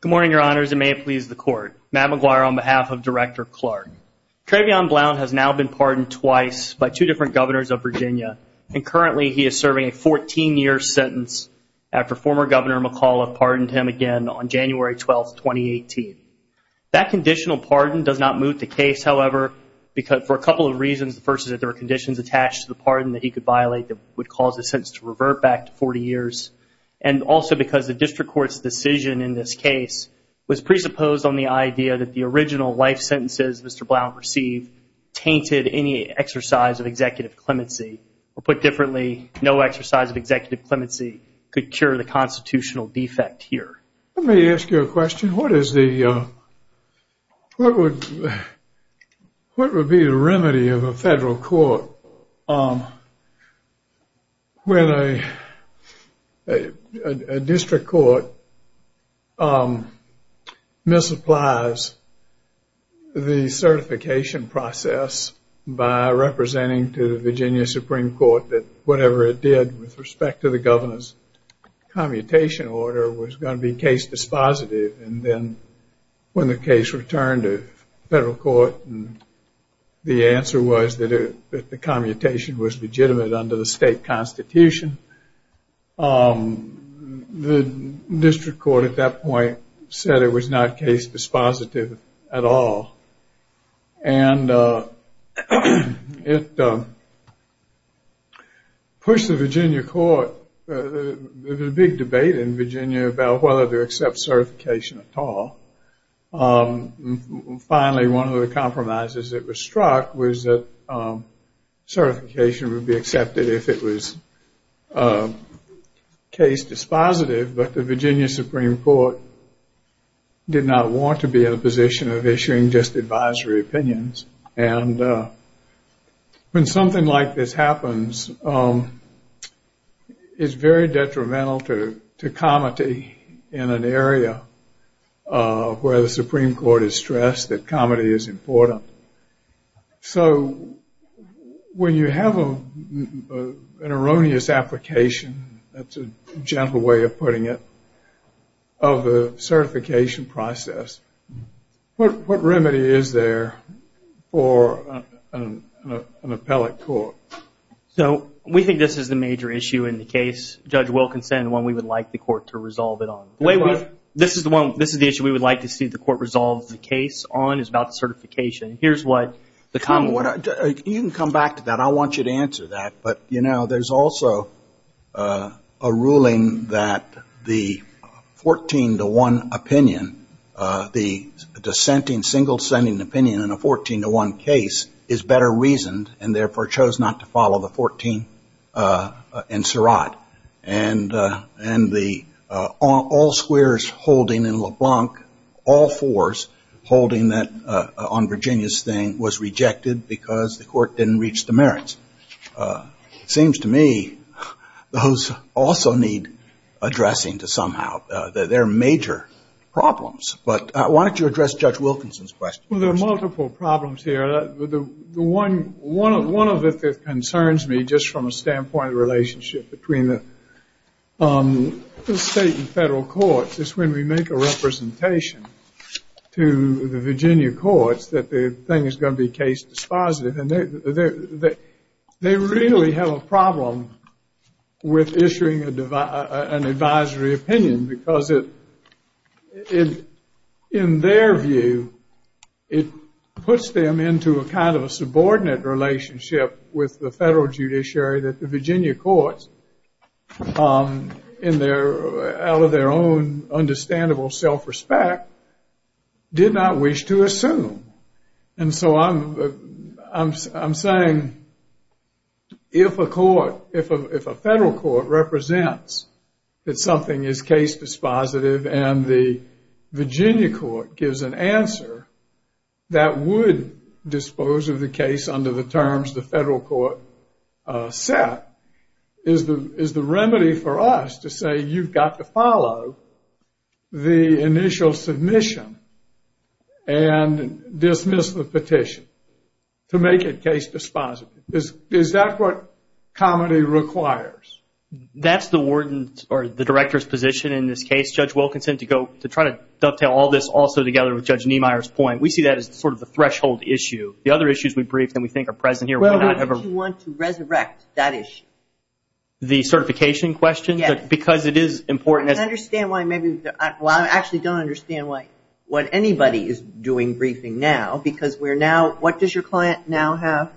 Good morning, Your Honors, and may it please the Court. Matt McGuire on behalf of Director Clarke. Travion Blount has now been pardoned twice by two different governors of Virginia, and currently he is serving a 14-year sentence after former Governor McCaul had pardoned him again on January 12, 2018. That conditional pardon does not move the case, however, for a couple of reasons. The first is that there are conditions attached to the pardon that he could violate that would cause the sentence to revert back to 40 years, and also because the District Court's decision in this case was presupposed on the idea that the original life sentences Mr. Blount received tainted any exercise of executive clemency, or put differently, no exercise of executive clemency could cure the constitutional defect here. Let me ask you a question. What is the, what would be the remedy of a federal court when a District Court misapplies the certification process by representing to the Virginia Supreme Court that whatever it did with respect to the governor's commutation order was going to be case dispositive, and then when the case returned to federal court and the answer was that the commutation was legitimate under the state constitution, the District Court at that point said it was not case dispositive at all, and it pushed the Virginia court, there was a big debate in Virginia about whether to accept certification at all, and finally one of the compromises that was struck was that certification would be accepted if it was case dispositive, but the Virginia Supreme Court did not want to be in a position of issuing just advisory opinions, and when something like this happens, it's very detrimental to comity in an area where the Supreme Court has stressed that comity is important. So, when you have an erroneous application, that's a gentle way of putting it, of a certification process, what remedy is there for an appellate court? So we think this is the major issue in the case, Judge Wilkinson, the one we would like the court to resolve it on. This is the one, this is the issue we would like to see the court resolve the case on is about certification. Here's what the common... You can come back to that, I want you to answer that, but you know, there's also a ruling that the 14 to 1 opinion, the dissenting, single dissenting opinion in a 14 to 1 case is better reasoned, and therefore chose not to follow the 14 in Surratt, and all squares holding in LeBlanc, all fours holding that on Virginia's thing was rejected because the court didn't reach the merits. It seems to me those also need addressing to somehow, they're major problems, but why don't you address Judge Wilkinson's question? Well, there are multiple problems here. One of it that concerns me, just from a standpoint of relationship between the state and federal courts, is when we make a representation to the Virginia courts that the thing is going to be case dispositive, and they really have a problem with issuing an advisory opinion because it, in their view, it puts them into a kind of a subordinate relationship with the federal judiciary that the Virginia courts, in their, out of their own understandable self-respect, did not wish to assume. And so I'm saying, if a court, if a federal court represents that something is case dispositive and the Virginia court gives an answer, that would dispose of the case under the terms the federal court set, is the remedy for us to say, you've got to follow the initial submission and dismiss the petition to make it case dispositive? Is that what comedy requires? That's the warden's, or the director's position in this case, Judge Wilkinson, to go, to try to dovetail all this also together with Judge Niemeyer's point. We see that as sort of the threshold issue. The other issues we briefed and we think are present here, we do not have a... Well, we don't want to resurrect that issue. The certification question? Yes. Because it is important as... I don't understand why maybe, well, I actually don't understand why, what anybody is doing briefing now because we're now, what does your client now have?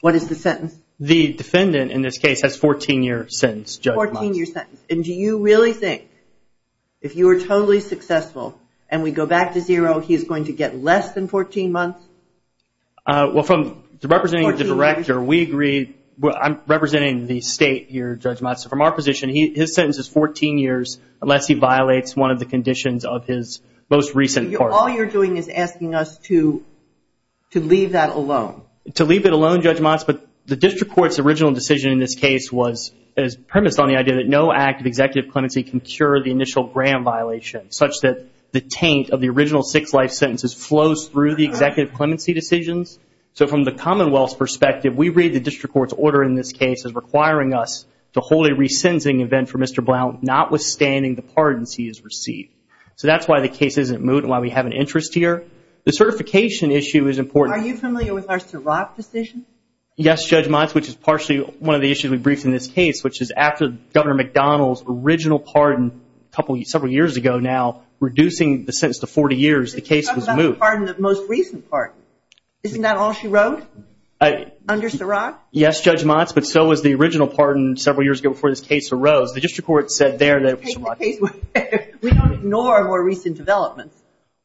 What is the sentence? The defendant, in this case, has a 14-year sentence, Judge Monk. 14-year sentence. And do you really think, if you were totally successful and we go back to zero, he's going to get less than 14 months? Well, from representing the director, we agree, I'm representing the state here, Judge Monk. So, from our position, his sentence is 14 years unless he violates one of the conditions of his most recent court. All you're doing is asking us to leave that alone. To leave it alone, Judge Monk, but the district court's original decision in this case was, is premised on the idea that no act of executive clemency can cure the initial gram violation such that the taint of the original six life sentences flows through the executive clemency decisions. So, from the commonwealth's perspective, we read the district court's order in this case as requiring us to hold a re-sentencing event for Mr. Blount notwithstanding the pardons he has received. So, that's why the case isn't moved and why we have an interest here. The certification issue is important. Are you familiar with our Ciroc decision? Yes, Judge Monk, which is partially one of the issues we briefed in this case, which is after Governor McDonald's original pardon a couple, several years ago now, reducing the sentence to 40 years, the case was moved. You're talking about the pardon, the most recent pardon. Isn't that all she wrote under Ciroc? Yes, Judge Monk, but so was the original pardon several years ago before this case arose. The district court said there that Ciroc... We don't ignore more recent developments.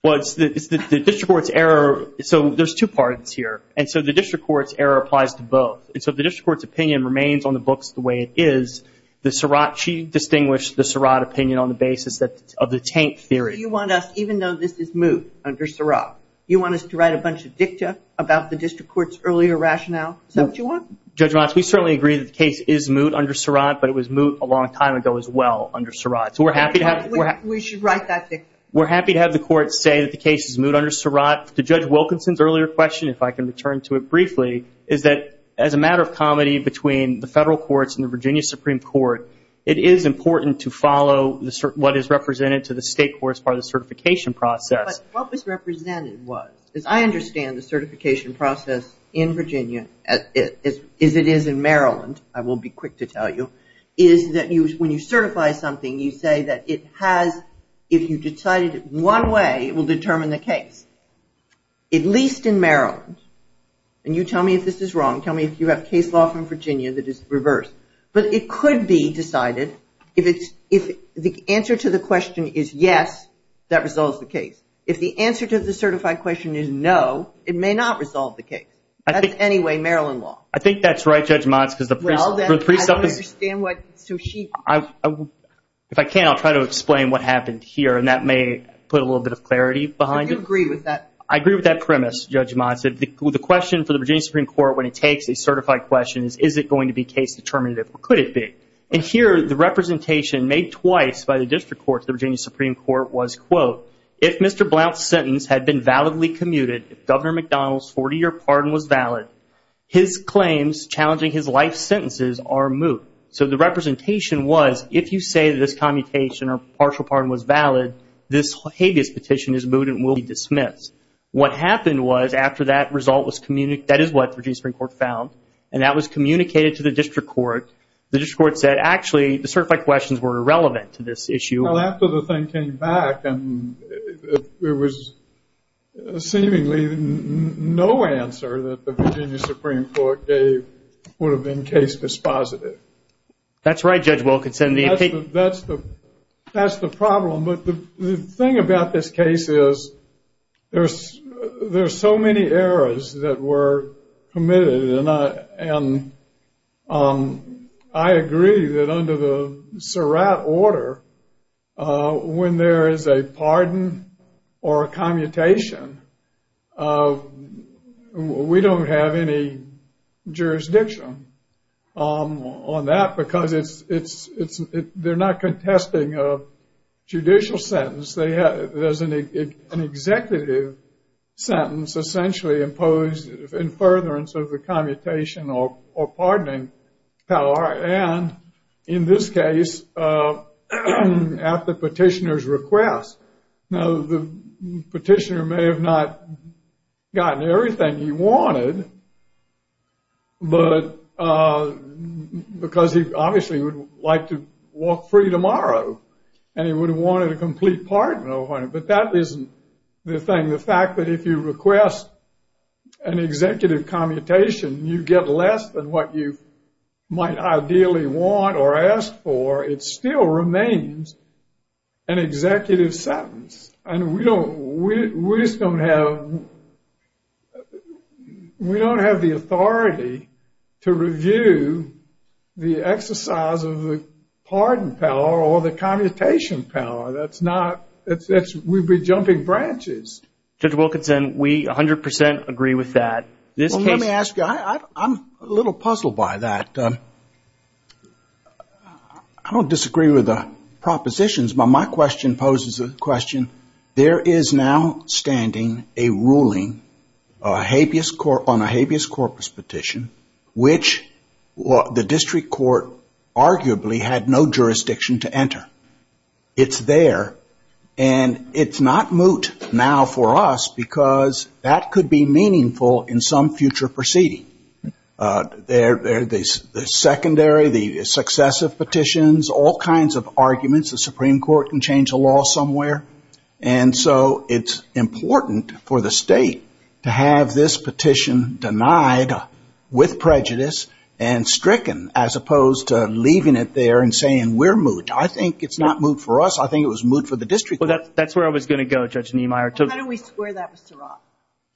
Well, it's the district court's error. So, there's two pardons here. And so, the district court's error applies to both. And so, the district court's opinion remains on the books the way it is. The Ciroc, she distinguished the Ciroc opinion on the basis of the taint theory. You want us, even though this is moot under Ciroc, you want us to write a bunch of dicta about the district court's earlier rationale? Is that what you want? Judge Monk, we certainly agree that the case is moot under Ciroc, but it was moot a long time ago as well under Ciroc. So, we're happy to have... We should write that dicta. We're happy to have the court say that the case is moot under Ciroc. To Judge Wilkinson's earlier question, if I can return to it briefly, is that as a matter of comedy between the federal courts and the Virginia Supreme Court, it is important to follow what is represented to the state courts by the certification process. But what was represented was, as I understand the certification process in Virginia, as it is in Maryland, I will be quick to tell you, is that when you certify something, you say that it has, if you decided it one way, it will determine the case. At least in Maryland, and you tell me if this is wrong, tell me if you have case law from Virginia that is reversed. But it could be decided, if the answer to the question is yes, that resolves the case. If the answer to the certified question is no, it may not resolve the case. That's anyway, Maryland law. I think that's right, Judge Motz, because the precept is... Well, then, I don't understand what Soushi... If I can, I'll try to explain what happened here, and that may put a little bit of clarity behind it. Do you agree with that? I agree with that premise, Judge Motz. If the question for the Virginia Supreme Court, when it takes a certified question, is it going to be case determinative, or could it be? And here, the representation made twice by the district court to the Virginia Supreme Court was, quote, if Mr. Blount's sentence had been validly commuted, if Governor McDonald's 40-year pardon was valid, his claims challenging his life sentences are moot. So the representation was, if you say that this commutation or partial pardon was valid, this habeas petition is moot and will be dismissed. What happened was, after that result was communicated, that is what the Virginia Supreme Court found, and that was communicated to the district court, the district court said, actually, the certified questions were irrelevant to this issue. Well, after the thing came back, and there was seemingly no answer that the Virginia Supreme Court was dispositive. That's right, Judge Wilkinson. That's the problem. But the thing about this case is, there's so many errors that were committed, and I agree that under the Surratt order, when there is a pardon or a commutation, we don't have any jurisdiction on that, because they're not contesting a judicial sentence. There's an executive sentence essentially imposed in furtherance of the commutation or pardoning power, and in this case, at the petitioner's request. Now, the petitioner may have not gotten everything he wanted, because he obviously would like to walk free tomorrow, and he would have wanted a complete pardon, but that isn't the thing. The fact that if you request an executive commutation, you get less than what you might ideally want or ask for, it still remains an executive sentence, and we don't have the authority to review the exercise of the pardon power or the commutation power. That's not... We'd be jumping branches. Judge Wilkinson, we 100% agree with that. Well, let me ask you, I'm a little puzzled by that. I don't disagree with the propositions, but my question poses a question. There is now standing a ruling on a habeas corpus petition, which the district court arguably had no jurisdiction to enter. It's there, and it's not moot now for us, because that could be meaningful in some future proceeding. The secondary, the successive petitions, all kinds of arguments, the Supreme Court can change the law somewhere, and so it's important for the state to have this petition denied with prejudice and stricken, as opposed to leaving it there and saying, we're moot. I think it's not moot for us. I think it was moot for the district court. That's where I was going to go, Judge Niemeyer. How do we square that with Surratt?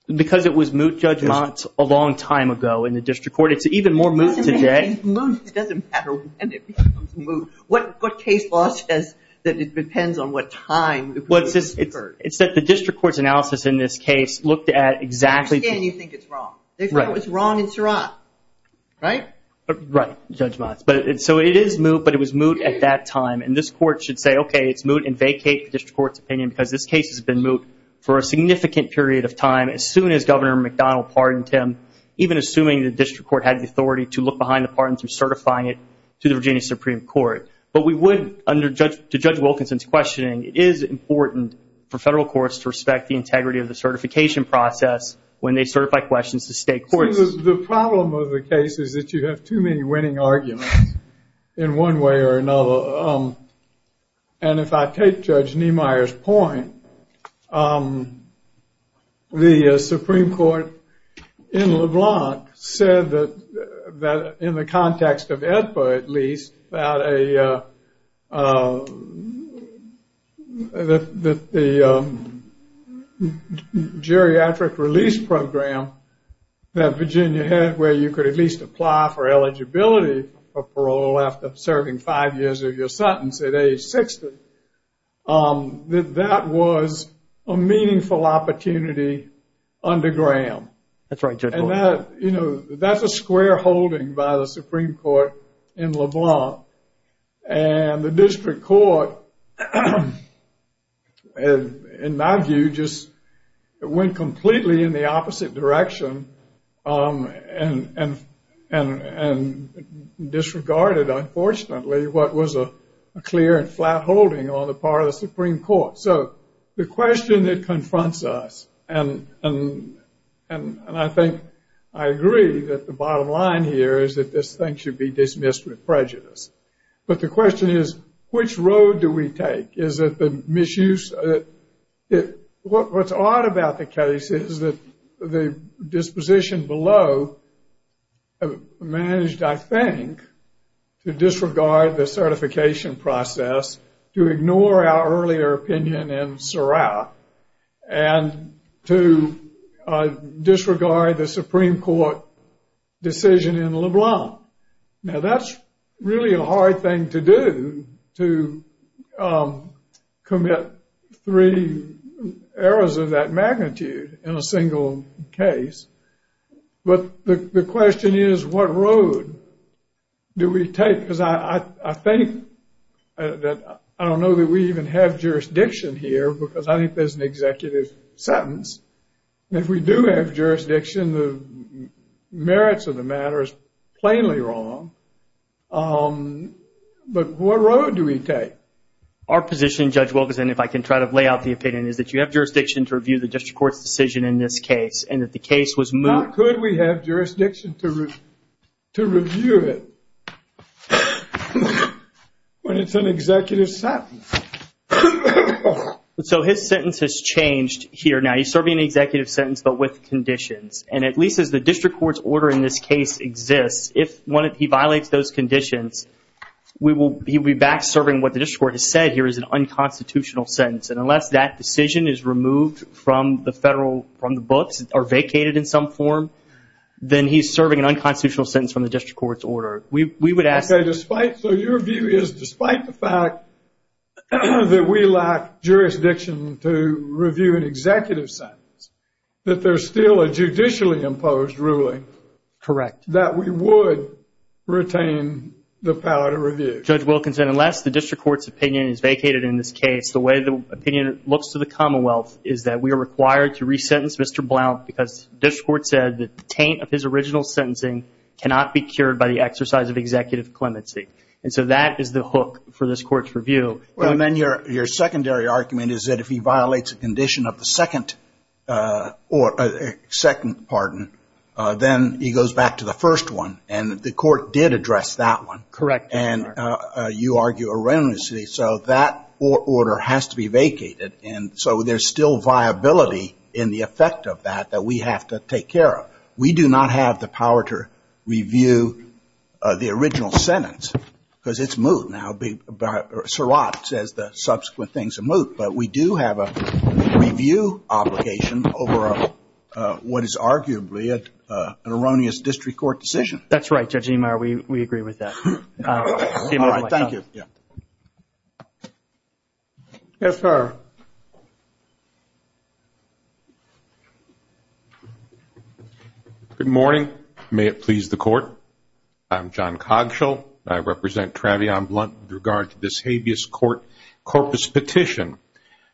Because it was moot, Judge Mott, a long time ago in the district court. It's even more moot today. Moot doesn't matter when it becomes moot. What case law says that it depends on what time it was deferred? It's that the district court's analysis in this case looked at exactly... They understand you think it's wrong. They thought it was wrong in Surratt, right? Right, Judge Mott. It is moot, but it was moot at that time, and this court should say, okay, it's moot and vacate the district court's opinion because this case has been moot for a significant period of time, as soon as Governor McDonnell pardoned him, even assuming the district court had the authority to look behind the pardon through certifying it to the Virginia Supreme Court. But we wouldn't, to Judge Wilkinson's questioning, it is important for federal courts to respect the integrity of the certification process when they certify questions to state courts. The problem of the case is that you have too many winning arguments in one way or another. And if I take Judge Niemeyer's point, the Supreme Court in LeBlanc said that in the Virginia head, where you could at least apply for eligibility for parole after serving five years of your sentence at age 60, that that was a meaningful opportunity under Graham. That's right, Judge Mott. That's a square holding by the Supreme Court in LeBlanc. And the district court, in my view, just went completely in the opposite direction and disregarded, unfortunately, what was a clear and flat holding on the part of the Supreme Court. So the question that confronts us, and I think I agree that the bottom line here is that this thing should be dismissed with prejudice. But the question is, which road do we take? Is it the misuse? What's odd about the case is that the disposition below managed, I think, to disregard the certification process, to ignore our earlier opinion in Seurat, and to disregard the Supreme Court decision in LeBlanc. Now, that's really a hard thing to do, to commit three errors of that magnitude in a single case. But the question is, what road do we take? Because I think that I don't know that we even have jurisdiction here because I think there's an executive sentence. If we do have jurisdiction, the merits of the matter is plainly wrong. But what road do we take? Our position, Judge Wilkerson, if I can try to lay out the opinion, is that you have jurisdiction to review the district court's decision in this case, and that the case was moved... How could we have jurisdiction to review it when it's an executive sentence? So his sentence has changed here. Now, he's serving an executive sentence, but with conditions. And at least as the district court's order in this case exists, if he violates those conditions, he'll be back serving what the district court has said here is an unconstitutional sentence. And unless that decision is removed from the federal, from the books, or vacated in some form, then he's serving an unconstitutional sentence from the district court's order. We would ask... So your view is, despite the fact that we lack jurisdiction to review an executive sentence, that there's still a judicially imposed ruling that we would retain the power to review? Judge Wilkerson, unless the district court's opinion is vacated in this case, the way the opinion looks to the Commonwealth is that we are required to resentence Mr. Blount because district court said that the taint of his original sentencing cannot be cured by the exercise of executive clemency. And so that is the hook for this court's review. And then your secondary argument is that if he violates a condition of the second pardon, then he goes back to the first one. And the court did address that one. Correct. And you argue erroneously. So that order has to be vacated. And so there's still viability in the effect of that that we have to take care of. We do not have the power to review the original sentence because it's moot. Now, Surratt says the subsequent thing's a moot. But we do have a review obligation over what is arguably an erroneous district court decision. That's right, Judge Niemeyer. We agree with that. All right. Thank you. Yes, sir. Good morning. May it please the court. I'm John Cogshill. I represent Travion Blount with regard to this habeas corpus petition.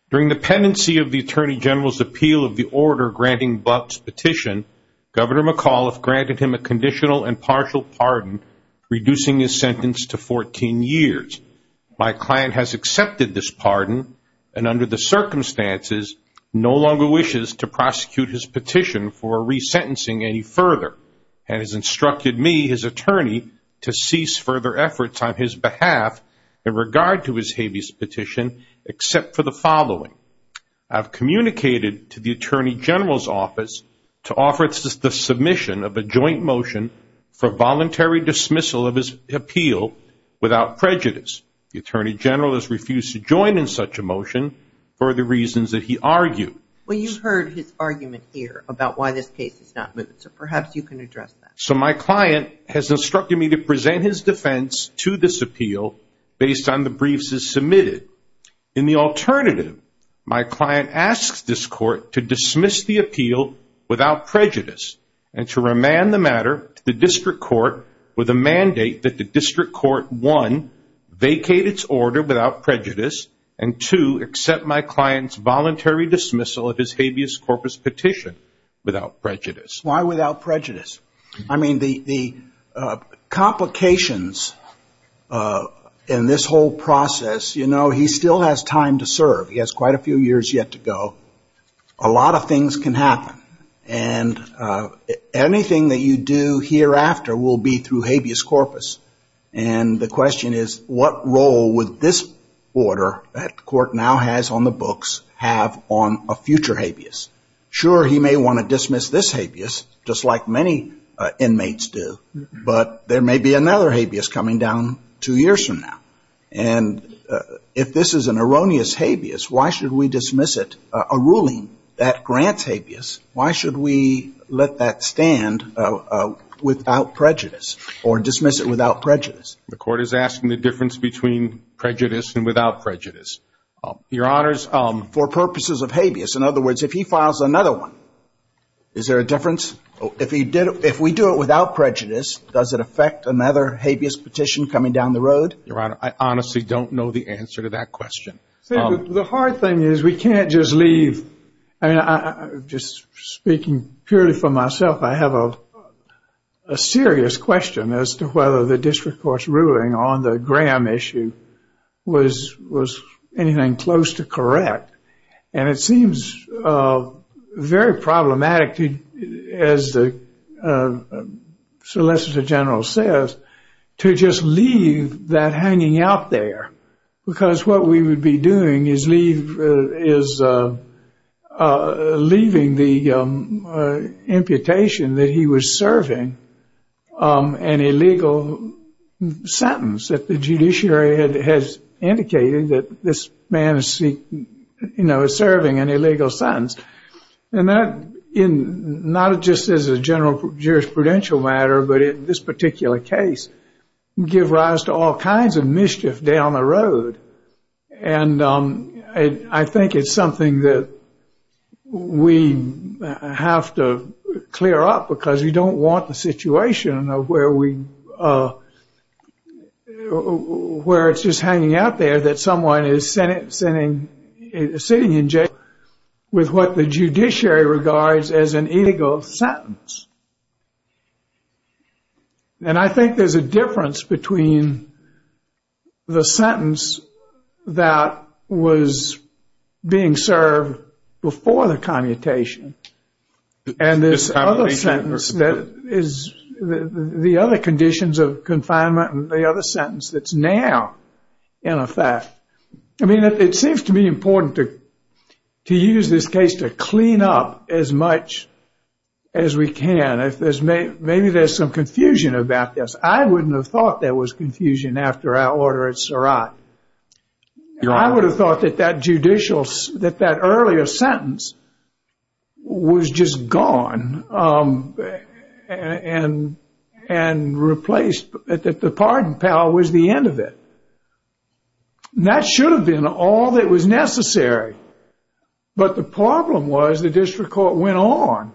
During the pendency of the Attorney General's appeal of the order granting Blount's petition, Governor McAuliffe granted him a conditional and partial pardon, reducing his sentence to 14 years. My client has accepted this pardon and, under the circumstances, no longer wishes to prosecute his petition for resentencing any further and has instructed me, his attorney, to cease further efforts on his behalf in regard to his habeas petition except for the following. I've communicated to the Attorney General's office to offer the submission of a joint motion for voluntary dismissal of his appeal without prejudice. The Attorney General has refused to join in such a motion for the reasons that he argued. Well, you heard his argument here about why this case is not moving, so perhaps you can address that. So my client has instructed me to present his defense to this appeal based on the briefs as submitted. In the alternative, my client asks this court to dismiss the appeal without prejudice and to remand the matter to the district court with a mandate that the district court, one, vacate its order without prejudice and, two, accept my client's voluntary dismissal of his habeas corpus petition without prejudice. Why without prejudice? I mean, the complications in this whole process, you know, he still has time to serve. He has quite a few years yet to go. A lot of things can happen. And anything that you do hereafter will be through habeas corpus. And the question is, what role would this order that the court now has on the books have on a future habeas? Sure, he may want to dismiss this habeas, just like many inmates do, but there may be another habeas coming down two years from now. And if this is an erroneous habeas, why should we dismiss it? A ruling that grants habeas, why should we let that stand without prejudice or dismiss it without prejudice? The court is asking the difference between prejudice and without prejudice. Your Honors, for purposes of habeas, in other words, if he files another one, is there a difference? If we do it without prejudice, does it affect another habeas petition coming down the road? Your Honor, I honestly don't know the answer to that question. See, the hard thing is we can't just leave, I mean, just speaking purely for myself, I have a serious question as to whether the district court's ruling on the Graham issue was anything close to correct. And it seems very problematic, as the Solicitor General says, to just leave that hanging out there. Because what we would be doing is leaving the imputation that he was serving an illegal sentence that the judiciary has indicated that this man is serving an illegal sentence. And that, not just as a general jurisprudential matter, but in this particular case, would give rise to all kinds of mischief down the road. And I think it's something that we have to clear up because we don't want the situation where it's just hanging out there that someone is sitting in jail with what the judiciary regards as an illegal sentence. And I think there's a difference between the sentence that was being served before the commutation and this other sentence that is the other conditions of confinement and the other sentence that's now in effect. I mean, it seems to me important to use this case to clean up as much as we can. If there's maybe there's some confusion about this. I wouldn't have thought there was confusion after our order at Surratt. I would have thought that that judicial, that that earlier sentence was just gone and replaced, that the pardon, pal, was the end of it. That should have been all that was necessary. But the problem was the district court went on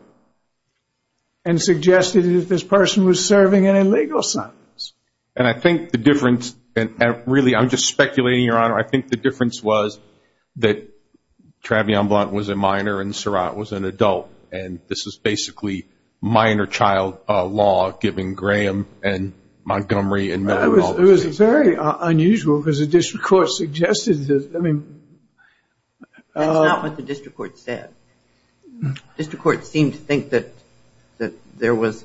and suggested that this person was serving an illegal sentence. And I think the difference, and really I'm just speculating, Your Honor, I think the difference was that Travion Blount was a minor and Surratt was an adult. And this is basically minor child law given Graham and Montgomery. And it was very unusual because the district court suggested this. I mean, that's not what the district court said. District court seemed to think that there was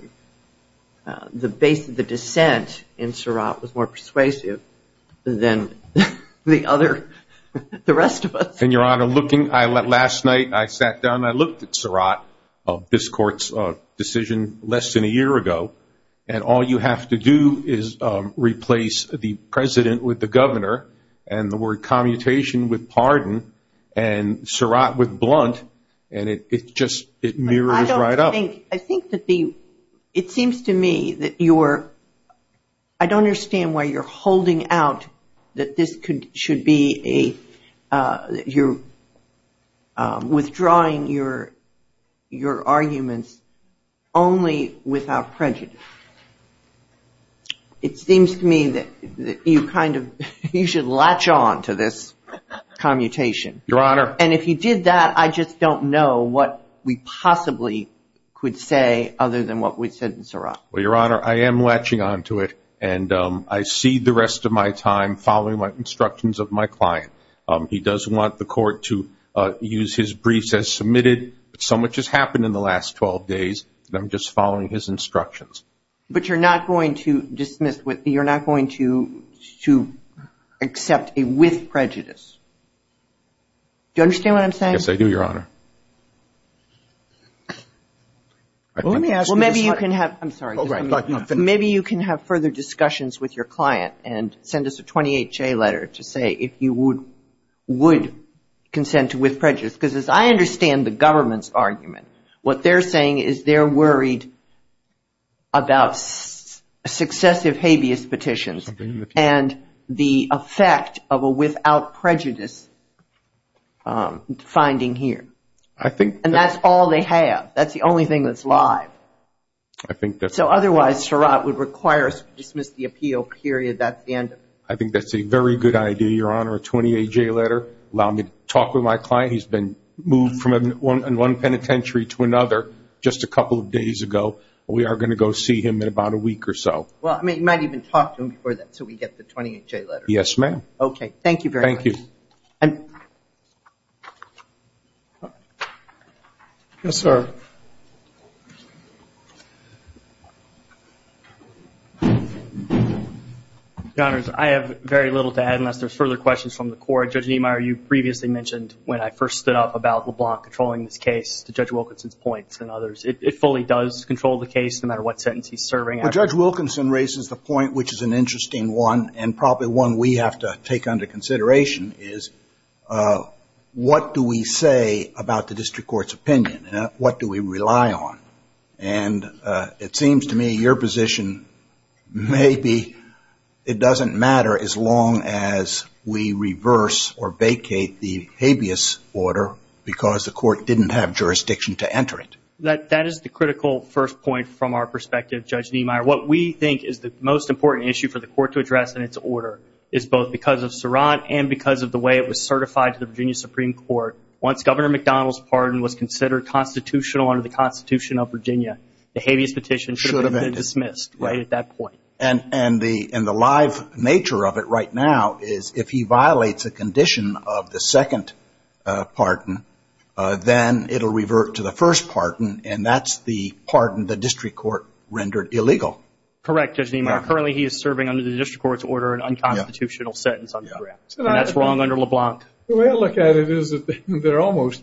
the base of the dissent in Surratt was more persuasive than the other, the rest of us. And, Your Honor, looking, last night I sat down, I looked at Surratt, this court's decision less than a year ago. And all you have to do is replace the president with the governor and the word commutation with pardon. And Surratt with Blount. And it just, it mirrors right up. I think that the, it seems to me that you're, I don't understand why you're holding out that this could, should be a, you're withdrawing your arguments only without prejudice. It seems to me that you kind of, you should latch on to this commutation. Your Honor. And if you did that, I just don't know what we possibly could say other than what we said in Surratt. Well, Your Honor, I am latching on to it. And I see the rest of my time following my instructions of my client. He does want the court to use his briefs as submitted. So much has happened in the last 12 days, and I'm just following his instructions. But you're not going to dismiss, you're not going to accept a with prejudice. Do you understand what I'm saying? Yes, I do, Your Honor. Well, let me ask you this. Well, maybe you can have, I'm sorry, maybe you can have further discussions with your client and send us a 28-J letter to say if you would, consent to with prejudice, because as I understand the government's argument, what they're saying is they're worried about successive habeas petitions, and the effect of a without prejudice finding here. I think. And that's all they have. That's the only thing that's live. I think that's. So otherwise, Surratt would require us to dismiss the appeal, period. That's the end of it. I think that's a very good idea, Your Honor. A 28-J letter, allow me to talk with my client. He's been moved from one penitentiary to another just a couple of days ago. We are going to go see him in about a week or so. Well, I mean, you might even talk to him before that so we get the 28-J letter. Yes, ma'am. Okay, thank you very much. Thank you. And. Yes, sir. Your Honors, I have very little to add unless there's further questions from the court. Judge Niemeyer, you previously mentioned when I first stood up about LeBlanc controlling this case to Judge Wilkinson's points and others. It fully does control the case, no matter what sentence he's serving. Well, Judge Wilkinson raises the point, which is an interesting one, and probably one we have to take under consideration, is what do we say about the district court's opinion? What do we rely on? And it seems to me your position may be it doesn't matter as long as we reverse or vacate the habeas order because the court didn't have jurisdiction to enter it. That is the critical first point from our perspective, Judge Niemeyer. What we think is the most important issue for the court to address in its order is both because of Surratt and because of the way it was certified to the Virginia Supreme Court. Once Governor McDonald's pardon was considered constitutional under the Constitution of Virginia, the habeas petition should have been dismissed right at that point. And the live nature of it right now is if he violates a condition of the second pardon, then it'll revert to the first pardon, and that's the pardon the district court rendered illegal. Correct, Judge Niemeyer. Currently, he is serving under the district court's order an unconstitutional sentence on Surratt, and that's wrong under LeBlanc. The way I look at it is that there are almost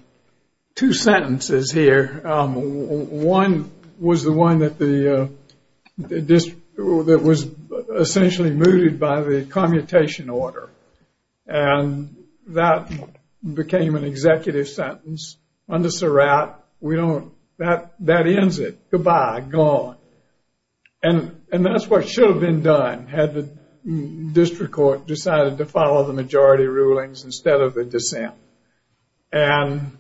two sentences here. One was the one that was essentially mooted by the commutation order, and that became an executive sentence under Surratt. We don't, that ends it. Goodbye, gone. And that's what should have been done had the district court decided to follow the majority rulings instead of a dissent. And,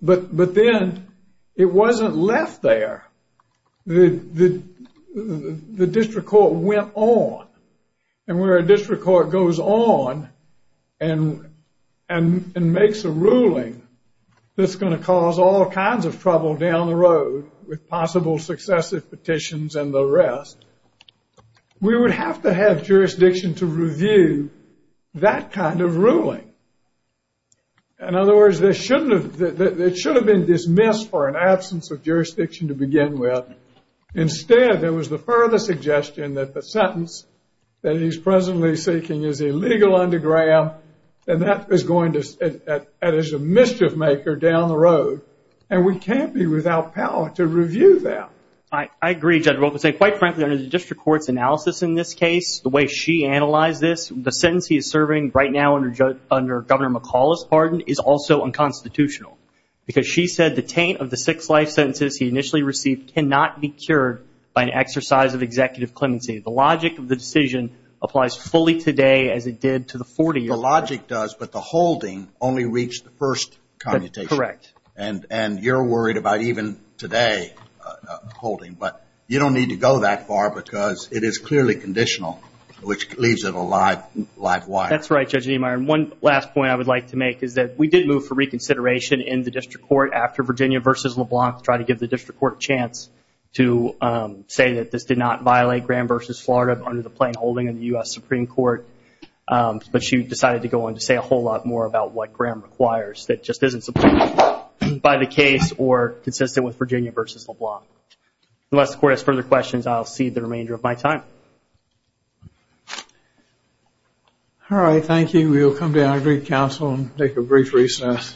but then it wasn't left there. The district court went on, and where a district court goes on and makes a ruling that's going to cause all kinds of trouble down the road with possible successive petitions and the rest, we would have to have jurisdiction to review that kind of ruling. In other words, it should have been dismissed for an absence of jurisdiction to begin with. Instead, there was the further suggestion that the sentence that he's presently seeking is illegal under Graham, and that is a mischief maker down the road, and we can't be without power to review that. I agree, Judge Wilkinson. Quite frankly, under the district court's analysis in this case, the way she analyzed this, the sentence he is serving right now under Governor McCaul's pardon is also unconstitutional because she said the taint of the six life sentences he initially received cannot be cured by an exercise of executive clemency. The logic of the decision applies fully today as it did to the 40-year-old. The logic does, but the holding only reached the first commutation. Correct. And you're worried about even today holding, but you don't need to go that far because it is clearly conditional, which leaves it a live wire. That's right, Judge Niemeyer. One last point I would like to make is that we did move for reconsideration in the district court after Virginia versus LeBlanc to try to give the district court a chance to say that this did not violate Graham versus Florida under the plain holding in the US Supreme Court, but she decided to go on to say a whole lot more about what Graham requires. That just isn't supported by the case or consistent with Virginia versus LeBlanc. Unless the court has further questions, I'll cede the remainder of my time. All right, thank you. We will come to our agreed counsel and take a brief recess.